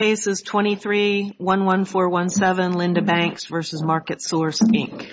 Case is 23-11417, Linda Banks v. Marketsource, Inc.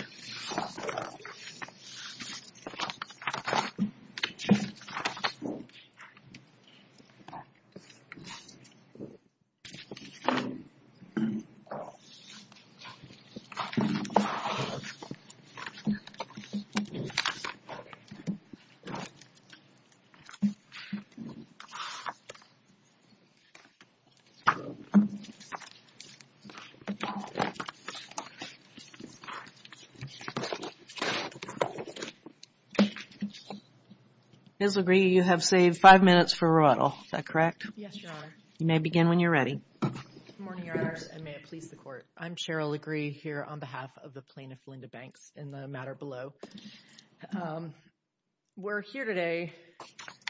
Ms. LaGriega, you have saved five minutes for a riddle. Is that correct? Yes, Your Honor. You may begin when you're ready. Good morning, Your Honors, and may it please the Court. I'm Cheryl LaGriega here on behalf of the plaintiff, Linda Banks, in the matter below. We're here today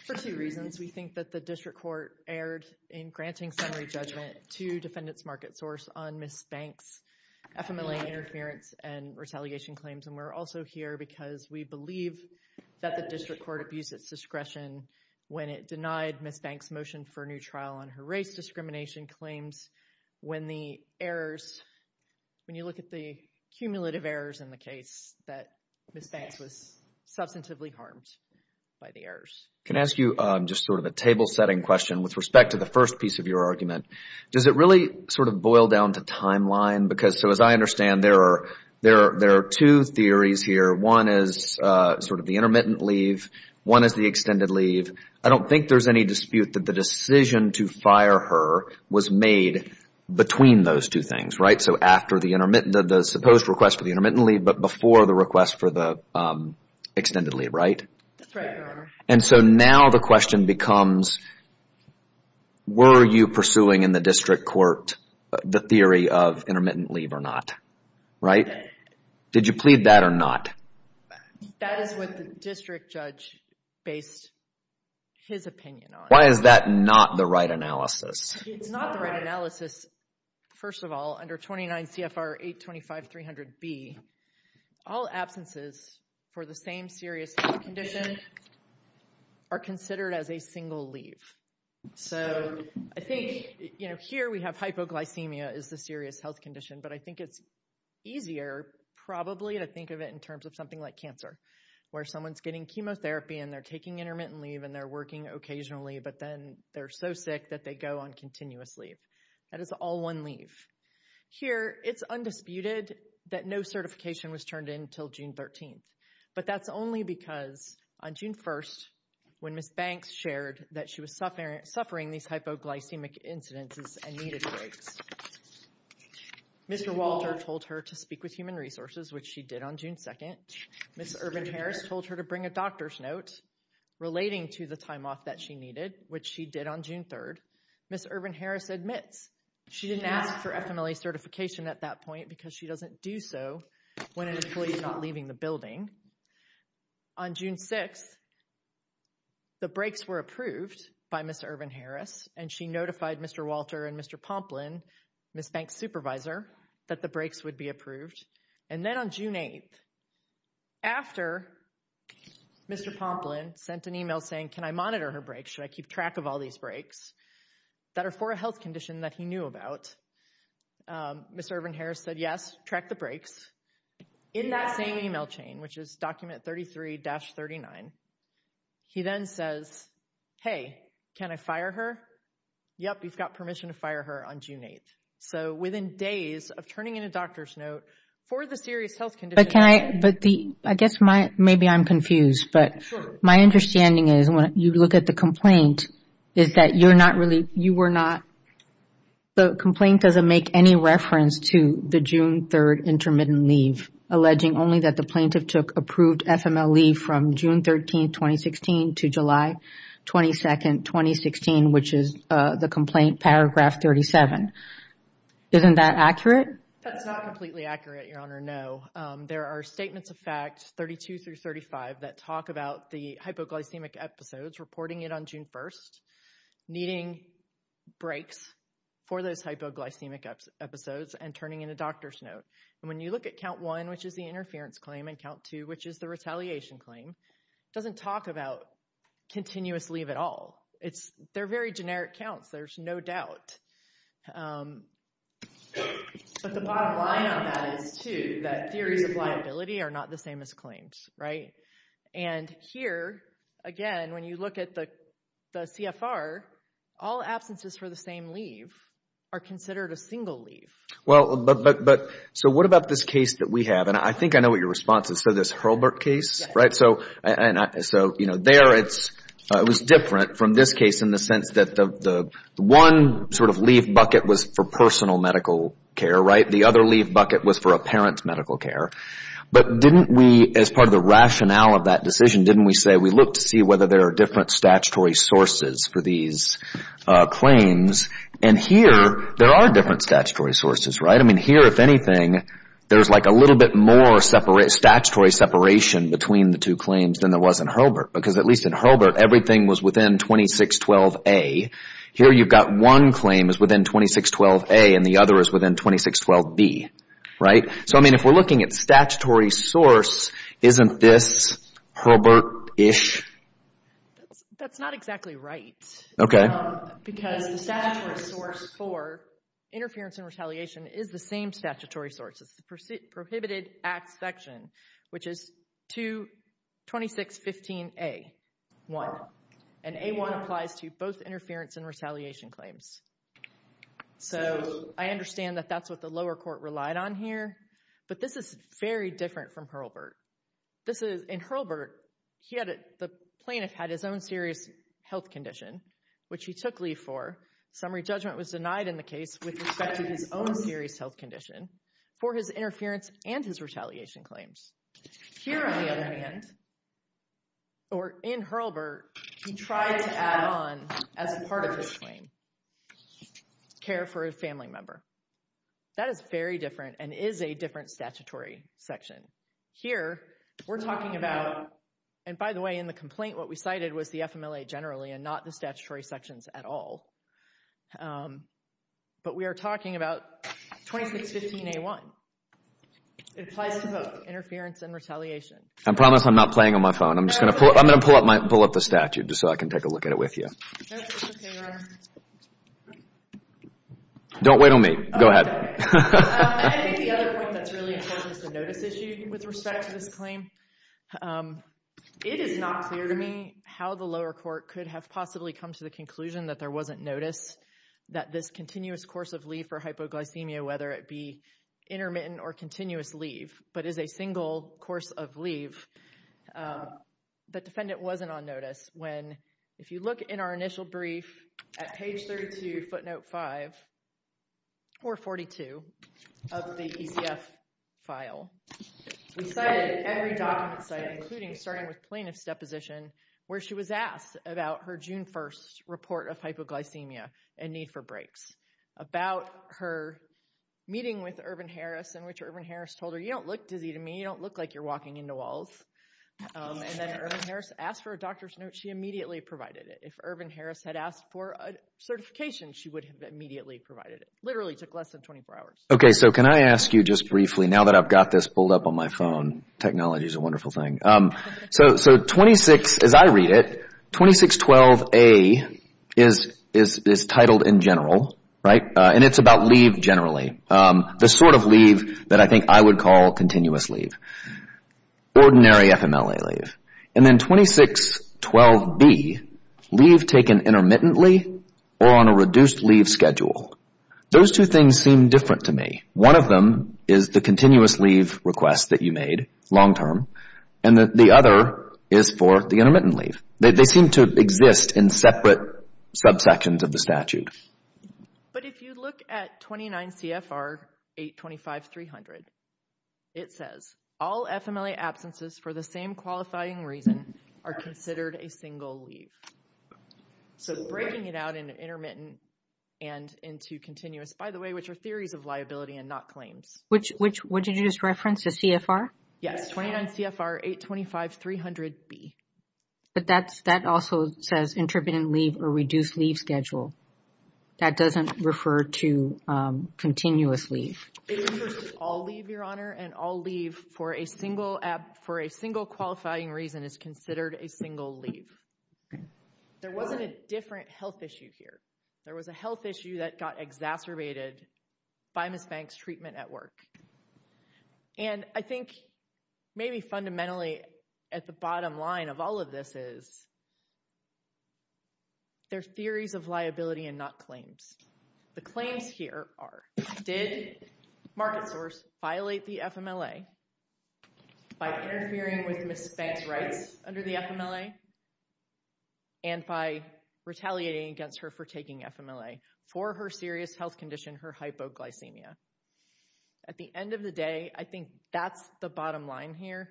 for two reasons. We think that the District Court erred in granting summary judgment to Defendant Marketsource on Ms. Banks' FMLA interference and retaliation claims. And we're also here because we believe that the District Court abused its discretion when it denied Ms. Banks' motion for a new trial on her race discrimination claims when the errors, when you look at the cumulative errors in the case, that Ms. Banks was substantively harmed by the errors. Can I ask you just sort of a table-setting question with respect to the first piece of your argument? Does it really sort of boil down to timeline? Because, so as I understand, there are two theories here. One is sort of the intermittent leave. One is the extended leave. I don't think there's any dispute that the decision to fire her was made between those two things, right? So after the supposed request for the intermittent leave, but before the request for the extended leave, right? That's right, Your Honor. And so now the question becomes, were you pursuing in the District Court the theory of intermittent leave or not, right? Did you plead that or not? That is what the District Judge based his opinion on. Why is that not the right analysis? It's not the right analysis. First of all, under 29 CFR 825-300B, all absences for the same serious health condition are considered as a single leave. So I think, you know, here we have hypoglycemia as the serious health condition, but I think it's easier probably to think of it in terms of something like cancer, where someone's getting chemotherapy and they're taking intermittent leave and they're working occasionally, but then they're so sick that they go on continuous leave. That is all one leave. Here, it's undisputed that no certification was turned in until June 13th, but that's only because on June 1st, when Ms. Banks shared that she was suffering these hypoglycemic incidences and needed breaks, Mr. Walter told her to speak with Human Resources, which she did on June 2nd. Ms. Urban-Harris told her to bring a doctor's note relating to the time off that she needed, which she did on June 3rd. Ms. Urban-Harris admits she didn't ask for FMLA certification at that point because she doesn't do so when an employee's not leaving the building. On June 6th, the breaks were approved by Ms. Urban-Harris, and she notified Mr. Walter and Mr. Pomplin, Ms. Banks' supervisor, that the breaks would be approved. And then on June 8th, after Mr. Pomplin sent an email saying, can I monitor her breaks, should I keep track of all these breaks that are for a health condition that he knew about, Ms. Urban-Harris said, yes, track the breaks. In that same email chain, which is document 33-39, he then says, hey, can I fire her? Yep, you've got permission to fire her on June 8th. So within days of turning in a doctor's note for the serious health condition— I guess maybe I'm confused, but my understanding is when you look at the complaint, is that you're not really, you were not, the complaint doesn't make any reference to the June 3rd intermittent leave, alleging only that the plaintiff took approved FMLA from June 13th, 2016 to July 22nd, 2016, which is the complaint paragraph 37. Isn't that accurate? That's not completely accurate, Your Honor, no. There are statements of fact 32-35 that talk about the hypoglycemic episodes, reporting it on June 1st, needing breaks for those hypoglycemic episodes and turning in a doctor's note. And when you look at count one, which is the interference claim, and count two, which is the retaliation claim, it doesn't talk about continuous leave at all. They're very generic counts, there's no doubt. But the bottom line on that is, too, that theories of liability are not the same as claims, right? And here, again, when you look at the CFR, all absences for the same leave are considered a single leave. Well, but, so what about this case that we have? And I think I know what your response is to this Hurlburt case, right? So, you know, there it's, it was different from this case in the sense that the one sort of leave bucket was for personal medical care, right? The other leave bucket was for a parent's medical care. But didn't we, as part of the rationale of that decision, didn't we say we looked to see whether there are different statutory sources for these claims? And here, there are different statutory sources, right? I mean, here, if anything, there's like a little bit more statutory separation between the two claims than there was in Hurlburt. Because at least in Hurlburt, everything was within 2612A. Here you've got one claim is within 2612A and the other is within 2612B, right? So, I mean, if we're looking at statutory source, isn't this Hurlburt-ish? That's not exactly right. Okay. Because the statutory source for interference and retaliation is the same statutory source. It's the prohibited acts section, which is 2615A1. And A1 applies to both interference and retaliation claims. So, I understand that that's what the lower court relied on here. But this is very different from Hurlburt. In Hurlburt, the plaintiff had his own serious health condition, which he took leave for. Summary judgment was denied in the case with respect to his own serious health condition for his interference and his retaliation claims. Here, on the other hand, or in Hurlburt, he tried to add on as part of his claim, care for a family member. That is very different and is a different statutory section. Here, we're talking about, and by the way, in the complaint, what we cited was the FMLA generally and not the statutory sections at all. But we are talking about 2615A1. It applies to both interference and retaliation. I promise I'm not playing on my phone. I'm going to pull up the statute just so I can take a look at it with you. No, it's okay, Robert. Don't wait on me. Go ahead. I think the other point that's really important is the notice issue with respect to this claim. It is not clear to me how the lower court could have possibly come to the conclusion that there wasn't notice, that this continuous course of leave for hypoglycemia, whether it be intermittent or continuous leave, but is a single course of leave. The defendant wasn't on notice when, if you look in our initial brief at page 32, footnote 5, or 42 of the ECF file, we cited every document site, including starting with plaintiff's deposition, where she was asked about her June 1st report of hypoglycemia and need for breaks, about her meeting with Ervin Harris in which Ervin Harris told her, You don't look dizzy to me. You don't look like you're walking into walls. And then Ervin Harris asked for a doctor's note. She immediately provided it. If Ervin Harris had asked for a certification, she would have immediately provided it. It literally took less than 24 hours. Okay, so can I ask you just briefly, now that I've got this pulled up on my phone, technology is a wonderful thing. So 26, as I read it, 2612A is titled in general, right? And it's about leave generally. The sort of leave that I think I would call continuous leave, ordinary FMLA leave. And then 2612B, leave taken intermittently or on a reduced leave schedule. Those two things seem different to me. One of them is the continuous leave request that you made, long term, and the other is for the intermittent leave. They seem to exist in separate subsections of the statute. But if you look at 29 CFR 825-300, it says, All FMLA absences for the same qualifying reason are considered a single leave. So breaking it out into intermittent and into continuous, by the way, which are theories of liability and not claims. What did you just reference? The CFR? Yes, 29 CFR 825-300B. But that also says intermittent leave or reduced leave schedule. That doesn't refer to continuous leave. It refers to all leave, Your Honor, and all leave for a single qualifying reason is considered a single leave. There wasn't a different health issue here. There was a health issue that got exacerbated by Ms. Banks' treatment at work. And I think maybe fundamentally at the bottom line of all of this is there are theories of liability and not claims. The claims here are, did MarketSource violate the FMLA by interfering with Ms. Banks' rights under the FMLA and by retaliating against her for taking FMLA for her serious health condition, her hypoglycemia? At the end of the day, I think that's the bottom line here.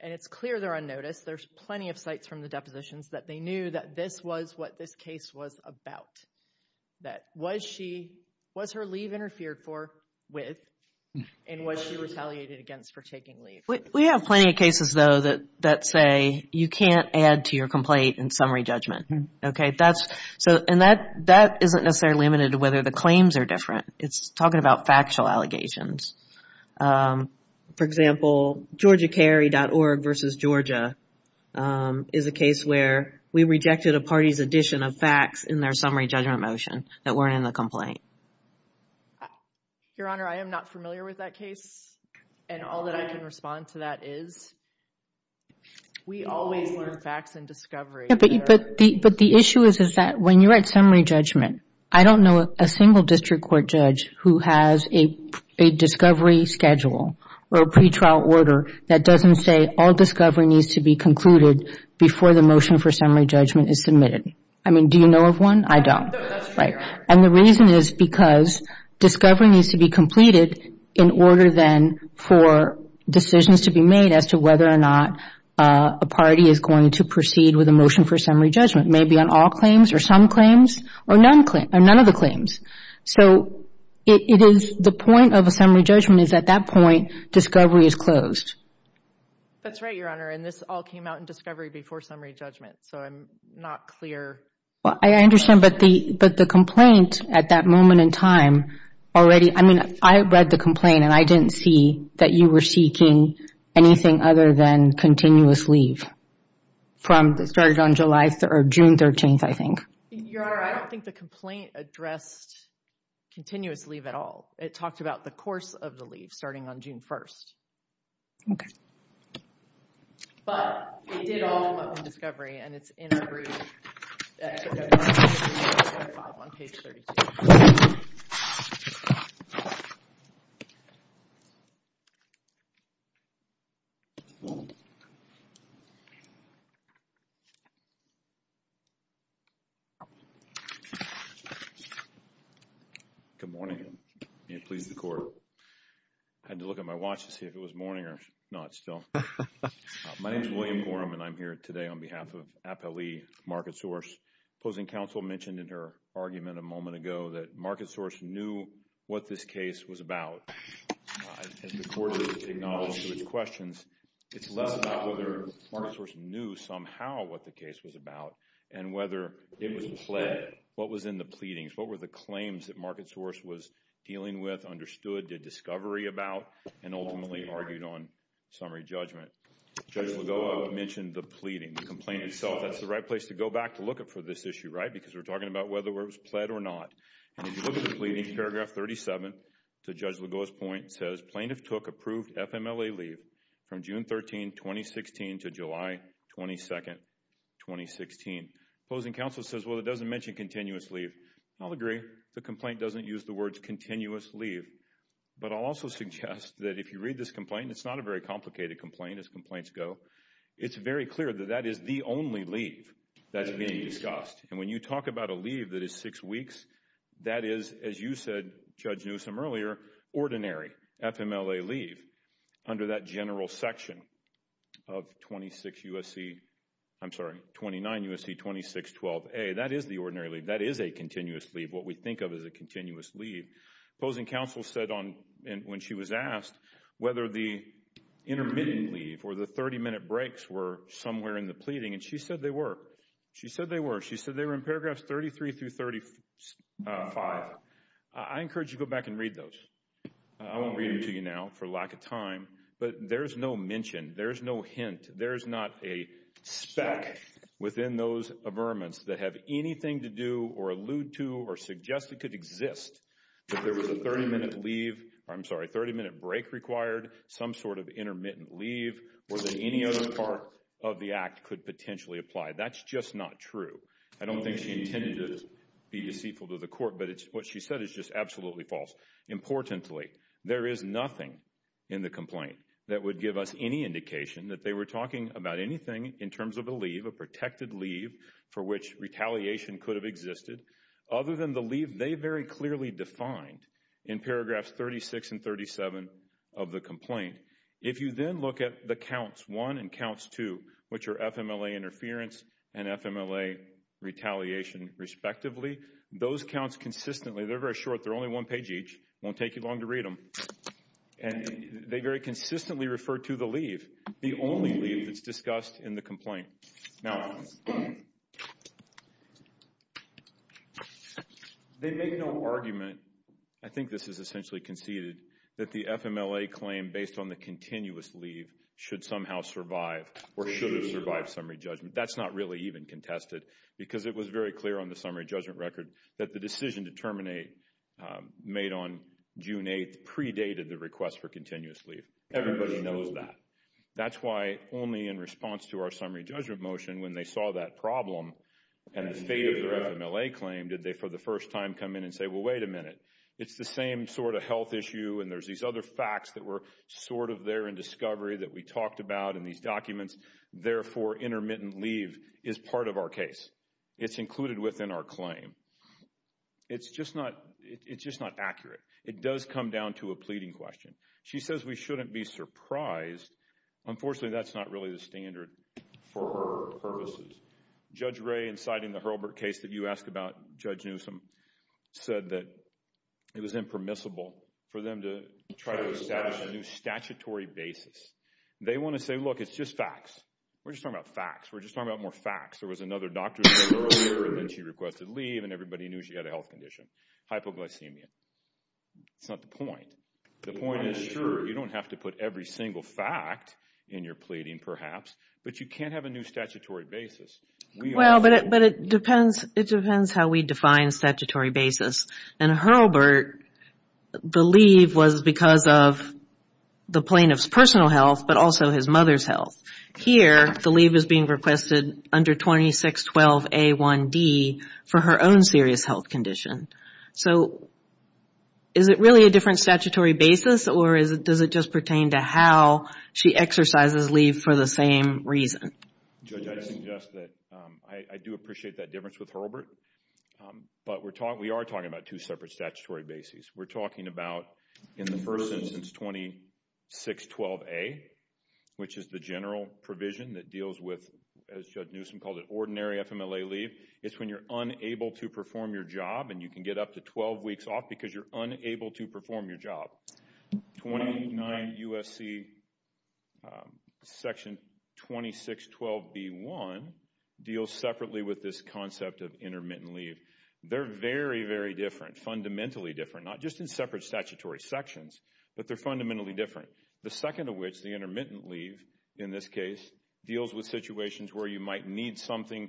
And it's clear they're unnoticed. There's plenty of sites from the depositions that they knew that this was what this case was about, that was she, was her leave interfered for with and was she retaliated against for taking leave? We have plenty of cases, though, that say you can't add to your complaint in summary judgment. And that isn't necessarily limited to whether the claims are different. It's talking about factual allegations. For example, GeorgiaCarry.org versus Georgia is a case where we rejected a party's addition of facts in their summary judgment motion that weren't in the complaint. Your Honor, I am not familiar with that case, and all that I can respond to that is we always learn facts in discovery. But the issue is that when you write summary judgment, I don't know a single district court judge who has a discovery schedule or a pretrial order that doesn't say all discovery needs to be concluded before the motion for summary judgment is submitted. I mean, do you know of one? I don't. And the reason is because discovery needs to be completed in order then for decisions to be made as to whether or not a party is going to proceed with a motion for summary judgment, maybe on all claims or some claims or none of the claims. So it is the point of a summary judgment is at that point discovery is closed. That's right, Your Honor, and this all came out in discovery before summary judgment, so I'm not clear. I understand, but the complaint at that moment in time already – anything other than continuous leave from – it started on July – or June 13th, I think. Your Honor, I don't think the complaint addressed continuous leave at all. It talked about the course of the leave starting on June 1st. Okay. But it did all come up in discovery, and it's in our brief. Good morning. May it please the Court. I had to look at my watch to see if it was morning or not still. My name is William Gorham, and I'm here today on behalf of Appellee MarketSource. Opposing counsel mentioned in her argument a moment ago that MarketSource knew what this case was about. As the Court acknowledges to its questions, it's less about whether MarketSource knew somehow what the case was about and whether it was pled, what was in the pleadings, what were the claims that MarketSource was dealing with, understood, did discovery about, and ultimately argued on summary judgment. Judge Lagoa mentioned the pleading, the complaint itself. That's the right place to go back to look for this issue, right, because we're talking about whether it was pled or not. And if you look at the pleading, paragraph 37 to Judge Lagoa's point says, Plaintiff took approved FMLA leave from June 13, 2016 to July 22, 2016. Opposing counsel says, well, it doesn't mention continuous leave. I'll agree. The complaint doesn't use the words continuous leave. But I'll also suggest that if you read this complaint, it's not a very complicated complaint, as complaints go. It's very clear that that is the only leave that's being discussed. And when you talk about a leave that is six weeks, that is, as you said, Judge Newsom, earlier, ordinary FMLA leave under that general section of 26 U.S.C., I'm sorry, 29 U.S.C., 2612A. That is the ordinary leave. That is a continuous leave, what we think of as a continuous leave. Opposing counsel said when she was asked whether the intermittent leave or the 30-minute breaks were somewhere in the pleading, and she said they were. She said they were. She said they were in paragraphs 33 through 35. I encourage you to go back and read those. I won't read them to you now for lack of time. But there's no mention. There's no hint. There's not a speck within those averments that have anything to do or allude to or suggest it could exist. If there was a 30-minute leave, I'm sorry, 30-minute break required, some sort of intermittent leave, or that any other part of the act could potentially apply. That's just not true. I don't think she intended to be deceitful to the court, but what she said is just absolutely false. Importantly, there is nothing in the complaint that would give us any indication that they were talking about anything in terms of a leave, a protected leave for which retaliation could have existed, other than the leave they very clearly defined in paragraphs 36 and 37 of the complaint. If you then look at the counts 1 and counts 2, which are FMLA interference and FMLA retaliation respectively, those counts consistently, they're very short. They're only one page each. It won't take you long to read them. And they very consistently refer to the leave, the only leave that's discussed in the complaint. Now, they make no argument. I think this is essentially conceded that the FMLA claim based on the continuous leave should somehow survive or should have survived summary judgment. That's not really even contested because it was very clear on the summary judgment record that the decision to terminate made on June 8th predated the request for continuous leave. Everybody knows that. That's why only in response to our summary judgment motion, when they saw that problem and the fate of their FMLA claim, did they for the first time come in and say, well, wait a minute, it's the same sort of health issue and there's these other facts that were sort of there in discovery that we talked about in these documents. Therefore, intermittent leave is part of our case. It's included within our claim. It's just not accurate. It does come down to a pleading question. She says we shouldn't be surprised. Unfortunately, that's not really the standard for her purposes. Judge Ray, in citing the Hurlburt case that you asked about, Judge Newsom, said that it was impermissible for them to try to establish a new statutory basis. They want to say, look, it's just facts. We're just talking about facts. We're just talking about more facts. There was another doctor who came earlier and then she requested leave and everybody knew she had a health condition, hypoglycemia. That's not the point. The point is, sure, you don't have to put every single fact in your pleading perhaps, but you can't have a new statutory basis. Well, but it depends how we define statutory basis. In Hurlburt, the leave was because of the plaintiff's personal health but also his mother's health. Here, the leave is being requested under 2612A1D for her own serious health condition. So is it really a different statutory basis or does it just pertain to how she exercises leave for the same reason? Judge, I'd suggest that I do appreciate that difference with Hurlburt, but we are talking about two separate statutory bases. We're talking about, in the first instance, 2612A, which is the general provision that deals with, as Judge Newsom called it, ordinary FMLA leave. It's when you're unable to perform your job and you can get up to 12 weeks off because you're unable to perform your job. 29 U.S.C. section 2612B1 deals separately with this concept of intermittent leave. They're very, very different, fundamentally different, not just in separate statutory sections, but they're fundamentally different. The second of which, the intermittent leave in this case, deals with situations where you might need something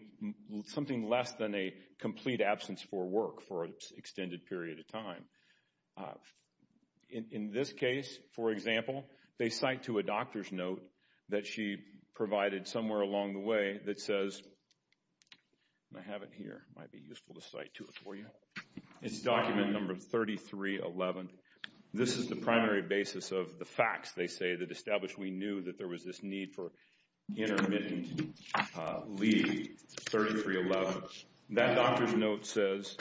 less than a complete absence for work, or for an extended period of time. In this case, for example, they cite to a doctor's note that she provided somewhere along the way that says, I have it here, might be useful to cite to it for you. It's document number 3311. This is the primary basis of the facts, they say, that establish we knew that there was this need for intermittent leave, 3311. That doctor's note says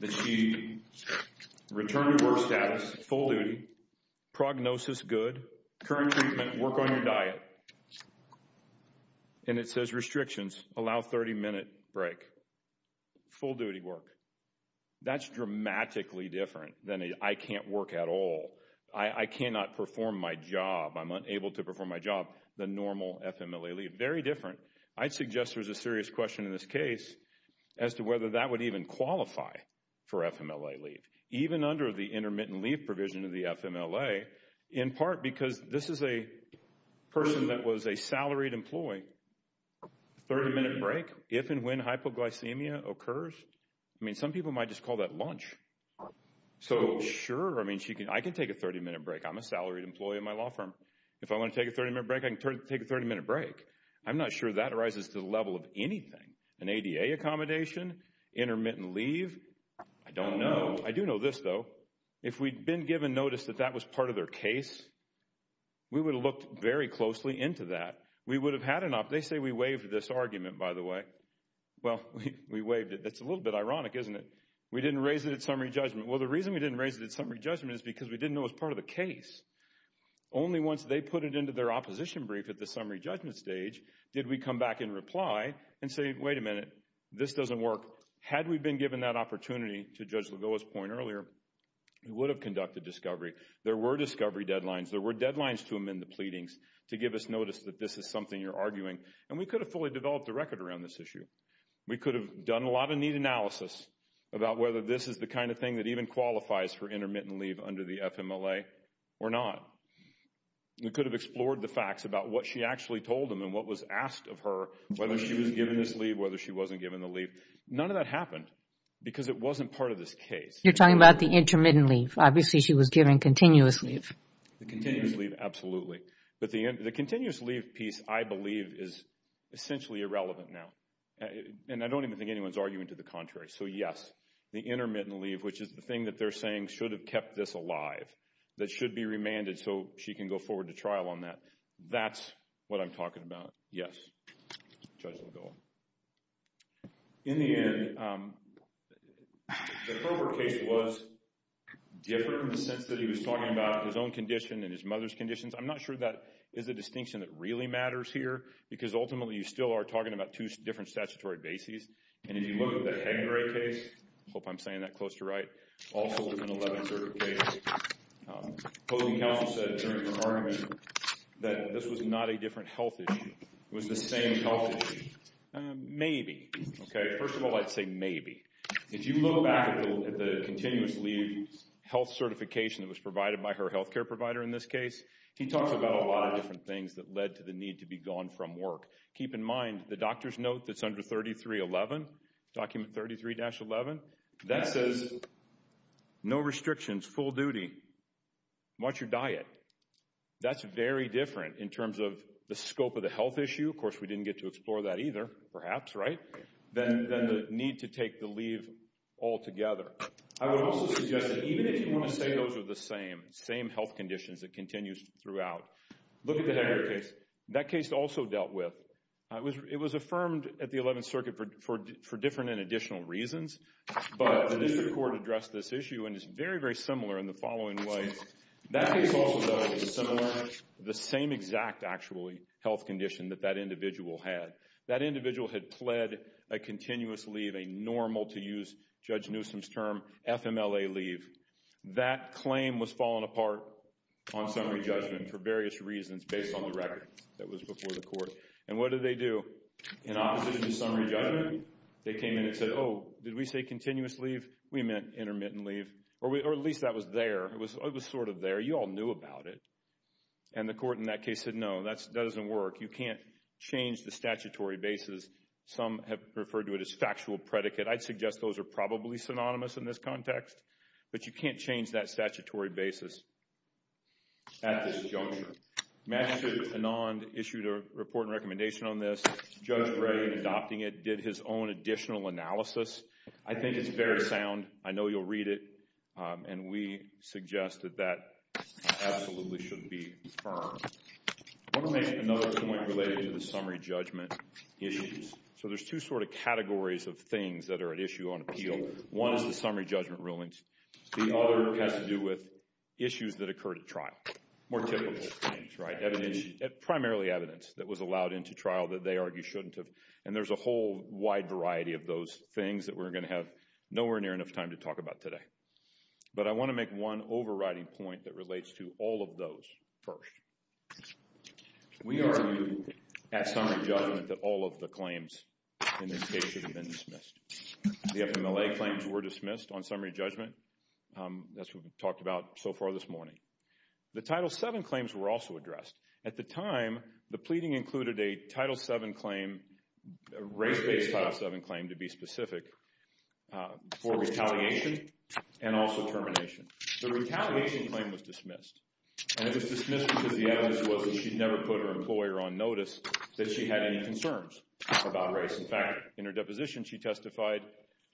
that she returned to work status, full duty, prognosis good, current treatment, work on your diet. And it says restrictions, allow 30-minute break, full duty work. That's dramatically different than I can't work at all. I cannot perform my job. I'm unable to perform my job than normal FMLA leave. Very different. I'd suggest there's a serious question in this case as to whether that would even qualify for FMLA leave. Even under the intermittent leave provision of the FMLA, in part because this is a person that was a salaried employee, 30-minute break? If and when hypoglycemia occurs? I mean, some people might just call that lunch. So, sure, I mean, I can take a 30-minute break. I'm a salaried employee at my law firm. If I want to take a 30-minute break, I can take a 30-minute break. I'm not sure that arises to the level of anything. An ADA accommodation, intermittent leave? I don't know. I do know this, though. If we'd been given notice that that was part of their case, we would have looked very closely into that. We would have had enough. They say we waived this argument, by the way. Well, we waived it. It's a little bit ironic, isn't it? We didn't raise it at summary judgment. Well, the reason we didn't raise it at summary judgment is because we didn't know it was part of the case. Only once they put it into their opposition brief at the summary judgment stage did we come back in reply and say, wait a minute, this doesn't work. Had we been given that opportunity, to Judge Lagoa's point earlier, we would have conducted discovery. There were discovery deadlines. There were deadlines to amend the pleadings to give us notice that this is something you're arguing. And we could have fully developed a record around this issue. We could have done a lot of neat analysis about whether this is the kind of thing that even qualifies for intermittent leave under the FMLA or not. We could have explored the facts about what she actually told them and what was asked of her, whether she was given this leave, whether she wasn't given the leave. None of that happened because it wasn't part of this case. You're talking about the intermittent leave. Obviously, she was given continuous leave. The continuous leave, absolutely. But the continuous leave piece, I believe, is essentially irrelevant now. And I don't even think anyone's arguing to the contrary. So, yes, the intermittent leave, which is the thing that they're saying should have kept this alive, that should be remanded so she can go forward to trial on that. That's what I'm talking about. Yes. Judge McGill. In the end, the Kroger case was different in the sense that he was talking about his own condition and his mother's conditions. I'm not sure that is a distinction that really matters here because, ultimately, you still are talking about two different statutory bases. And if you look at the Hengrae case, I hope I'm saying that close to right, also with an 11 certificate, opposing counsel said during the argument that this was not a different health issue. It was the same health issue. Maybe. First of all, I'd say maybe. If you look back at the continuous leave health certification that was provided by her health care provider in this case, he talks about a lot of different things that led to the need to be gone from work. Keep in mind, the doctor's note that's under 3311, document 33-11, that says no restrictions, full duty, watch your diet. That's very different in terms of the scope of the health issue. Of course, we didn't get to explore that either, perhaps, right, than the need to take the leave altogether. I would also suggest that even if you want to say those are the same, same health conditions that continues throughout, look at the Hengrae case. That case also dealt with, it was affirmed at the 11th Circuit for different and additional reasons, but the district court addressed this issue and it's very, very similar in the following way. That case also dealt with a similar, the same exact, actually, health condition that that individual had. That individual had pled a continuous leave, a normal, to use Judge Newsom's term, FMLA leave. That claim was fallen apart on summary judgment for various reasons based on the record that was before the court. And what did they do? In opposition to summary judgment, they came in and said, oh, did we say continuous leave? We meant intermittent leave. Or at least that was there. It was sort of there. You all knew about it. And the court in that case said, no, that doesn't work. You can't change the statutory basis. Some have referred to it as factual predicate. I'd suggest those are probably synonymous in this context, but you can't change that statutory basis at this juncture. Magistrate Anand issued a report and recommendation on this. Judge Gray, adopting it, did his own additional analysis. I think it's very sound. I know you'll read it. And we suggest that that absolutely shouldn't be firm. I want to make another point related to the summary judgment issues. So there's two sort of categories of things that are at issue on appeal. One is the summary judgment rulings. The other has to do with issues that occurred at trial, more typical things, right? Primarily evidence that was allowed into trial that they argue shouldn't have. And there's a whole wide variety of those things that we're going to have nowhere near enough time to talk about today. But I want to make one overriding point that relates to all of those first. We argue at summary judgment that all of the claims in this case should have been dismissed. The FMLA claims were dismissed on summary judgment. That's what we've talked about so far this morning. The Title VII claims were also addressed. At the time, the pleading included a Title VII claim, a race-based Title VII claim to be specific, for retaliation and also termination. The retaliation claim was dismissed. And it was dismissed because the evidence was that she never put her employer on notice that she had any concerns about race. In fact, in her deposition, she testified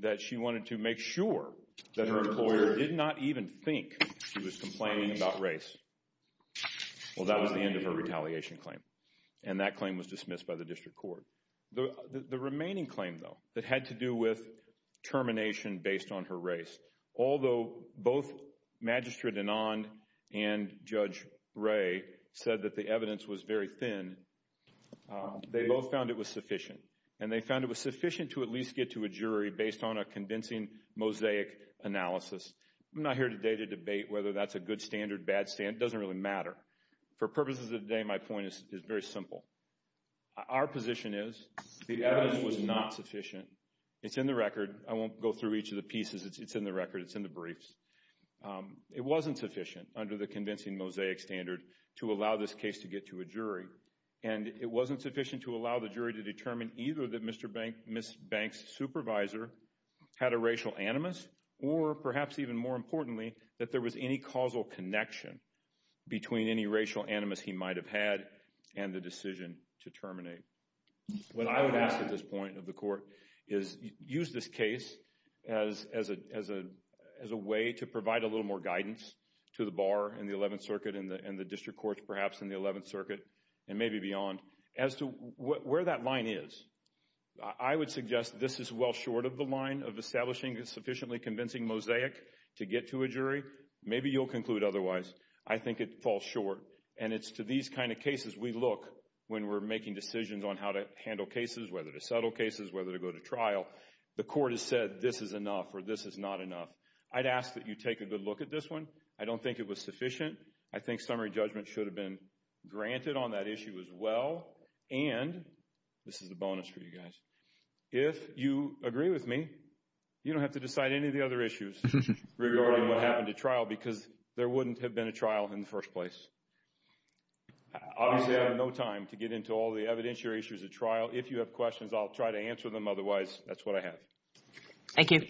that she wanted to make sure that her employer did not even think she was complaining about race. Well, that was the end of her retaliation claim. And that claim was dismissed by the district court. The remaining claim, though, that had to do with termination based on her race, although both Magistrate Anand and Judge Ray said that the evidence was very thin, they both found it was sufficient. And they found it was sufficient to at least get to a jury based on a convincing mosaic analysis. I'm not here today to debate whether that's a good standard, bad standard. It doesn't really matter. For purposes of today, my point is very simple. Our position is the evidence was not sufficient. It's in the record. I won't go through each of the pieces. It's in the record. It's in the briefs. It wasn't sufficient under the convincing mosaic standard to allow this case to get to a jury. And it wasn't sufficient to allow the jury to determine either that Ms. Banks' supervisor had a racial animus or, perhaps even more importantly, that there was any causal connection between any racial animus he might have had and the decision to terminate. What I would ask at this point of the court is use this case as a way to provide a little more guidance to the bar in the Eleventh Circuit and the district courts perhaps in the Eleventh Circuit and maybe beyond as to where that line is. I would suggest this is well short of the line of establishing a sufficiently convincing mosaic to get to a jury. Maybe you'll conclude otherwise. I think it falls short. And it's to these kind of cases we look when we're making decisions on how to handle cases, whether to settle cases, whether to go to trial. The court has said this is enough or this is not enough. I'd ask that you take a good look at this one. I don't think it was sufficient. I think summary judgment should have been granted on that issue as well. And this is a bonus for you guys. If you agree with me, you don't have to decide any of the other issues regarding what happened at trial because there wouldn't have been a trial in the first place. Obviously, I have no time to get into all the evidentiary issues at trial. If you have questions, I'll try to answer them. Otherwise, that's what I have. Thank you.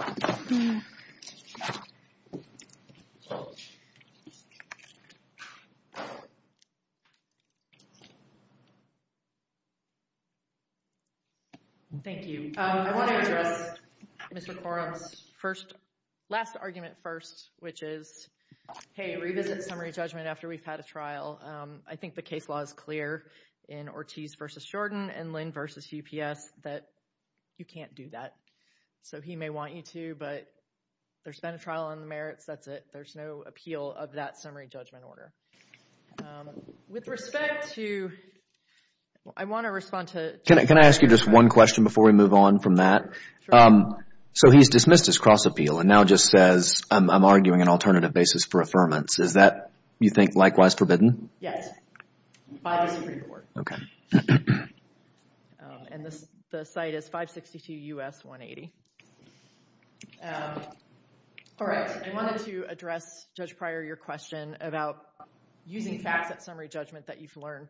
Thank you. Thank you. I want to address Mr. Corum's last argument first, which is, hey, revisit summary judgment after we've had a trial. I think the case law is clear in Ortiz v. Shorten and Lynn v. UPS that you can't do that. So he may want you to, but there's been a trial on the merits. That's it. There's no appeal of that summary judgment order. With respect to... I want to respond to... Can I ask you just one question before we move on from that? Sure. So he's dismissed his cross appeal and now just says, I'm arguing an alternative basis for affirmance. Is that, you think, likewise forbidden? Yes. By the Supreme Court. Okay. And the site is 562 U.S. 180. All right. I wanted to address, Judge Pryor, your question about using facts at summary judgment that you've learned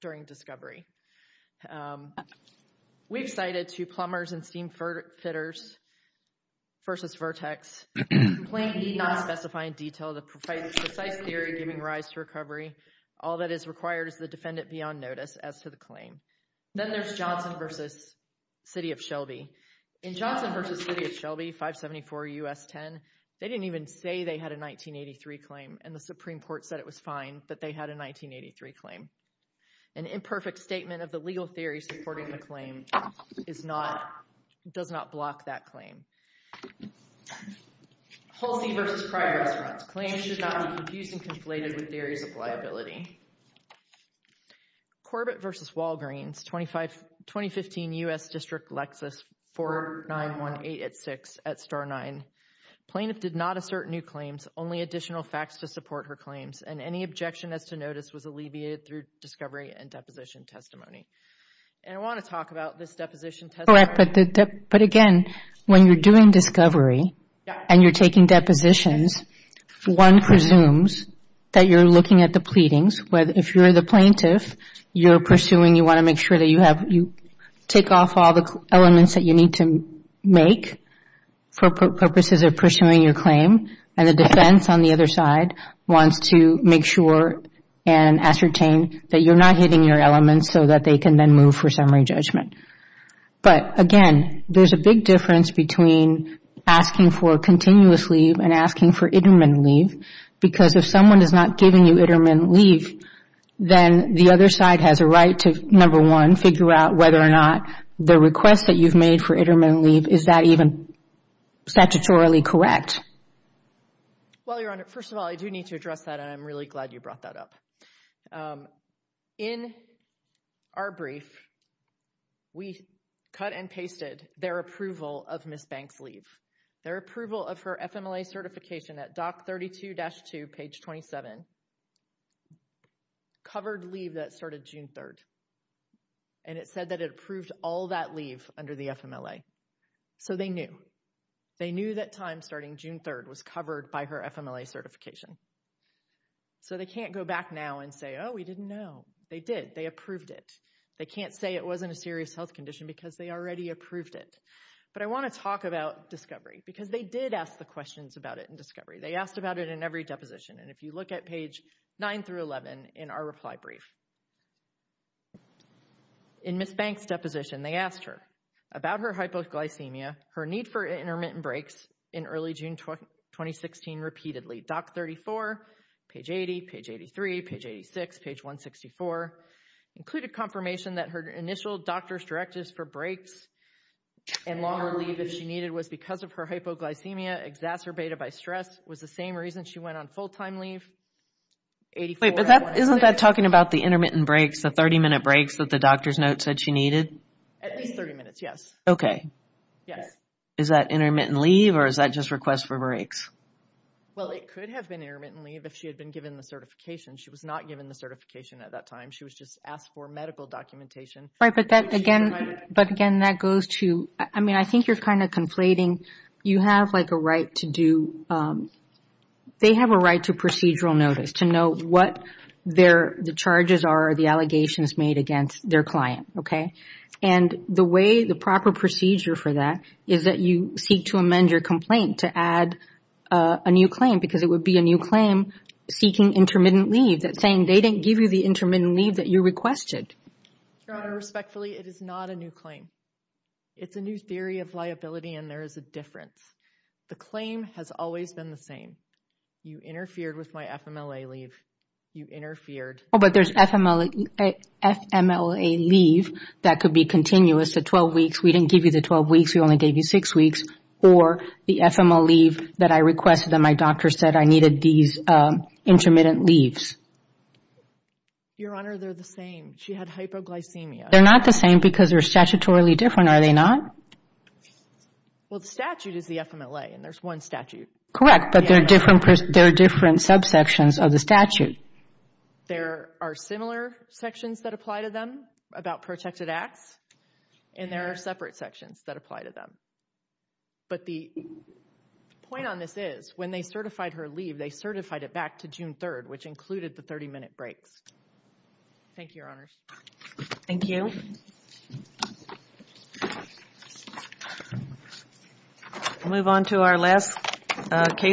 during discovery. We've cited two plumbers and steam fitters versus Vertex. Complaint need not specify in detail the precise theory giving rise to recovery. All that is required is the defendant be on notice as to the claim. Then there's Johnson versus City of Shelby. In Johnson versus City of Shelby, 574 U.S. 10, they didn't even say they had a 1983 claim and the Supreme Court said it was fine that they had a 1983 claim. An imperfect statement of the legal theory supporting the claim does not block that claim. Holsey versus Pryor has rights. Claims should not be confused and conflated with theories of liability. Corbett versus Walgreens, 2015 U.S. District Lexus, 4918 at 6 at Star 9. Plaintiff did not assert new claims, only additional facts to support her claims, and any objection as to notice was alleviated through discovery and deposition testimony. And I want to talk about this deposition testimony. Correct, but again, when you're doing discovery and you're taking depositions, one presumes that you're looking at the pleadings. If you're the plaintiff, you're pursuing, you want to make sure that you take off all the elements that you need to make for purposes of pursuing your claim, and the defense on the other side wants to make sure and ascertain that you're not hitting your elements so that they can then move for summary judgment. But again, there's a big difference between asking for continuously and asking for intermittent leave, because if someone is not giving you intermittent leave, then the other side has a right to, number one, figure out whether or not the request that you've made for intermittent leave, is that even statutorily correct? Well, Your Honor, first of all, I do need to address that, and I'm really glad you brought that up. In our brief, we cut and pasted their approval of Ms. Banks' leave, their approval of her FMLA certification at Doc 32-2, page 27, covered leave that started June 3rd. And it said that it approved all that leave under the FMLA. So they knew. They knew that time starting June 3rd was covered by her FMLA certification. So they can't go back now and say, oh, we didn't know. They did, they approved it. They can't say it wasn't a serious health condition because they already approved it. But I want to talk about discovery, because they did ask the questions about it in discovery. They asked about it in every deposition. And if you look at page 9 through 11 in our reply brief, in Ms. Banks' deposition, they asked her about her hypoglycemia, her need for intermittent breaks in early June 2016 repeatedly. Doc 34, page 80, page 83, page 86, page 164, included confirmation that her initial doctor's directives for breaks and longer leave if she needed was because of her hypoglycemia exacerbated by stress was the same reason she went on full-time leave. Wait, but isn't that talking about the intermittent breaks, the 30-minute breaks that the doctor's note said she needed? At least 30 minutes, yes. Okay. Yes. Is that intermittent leave, or is that just request for breaks? Well, it could have been intermittent leave if she had been given the certification. She was not given the certification at that time. She was just asked for medical documentation. Right, but again, that goes to – I mean, I think you're kind of conflating. You have, like, a right to do – they have a right to procedural notice to know what the charges are, the allegations made against their client, okay? And the way, the proper procedure for that is that you seek to amend your complaint to add a new claim because it would be a new claim seeking intermittent leave saying they didn't give you the intermittent leave that you requested. Your Honor, respectfully, it is not a new claim. It's a new theory of liability, and there is a difference. The claim has always been the same. You interfered with my FMLA leave. You interfered. Oh, but there's FMLA leave that could be continuous, the 12 weeks. We didn't give you the 12 weeks. We only gave you six weeks. Or the FMLA leave that I requested and my doctor said I needed these intermittent leaves. Your Honor, they're the same. She had hypoglycemia. They're not the same because they're statutorily different, are they not? Well, the statute is the FMLA, and there's one statute. Correct, but there are different subsections of the statute. There are similar sections that apply to them about protected acts, and there are separate sections that apply to them. But the point on this is when they certified her leave, they certified it back to June 3rd, which included the 30-minute breaks. Thank you, Your Honors. Thank you. We'll move on to our last case.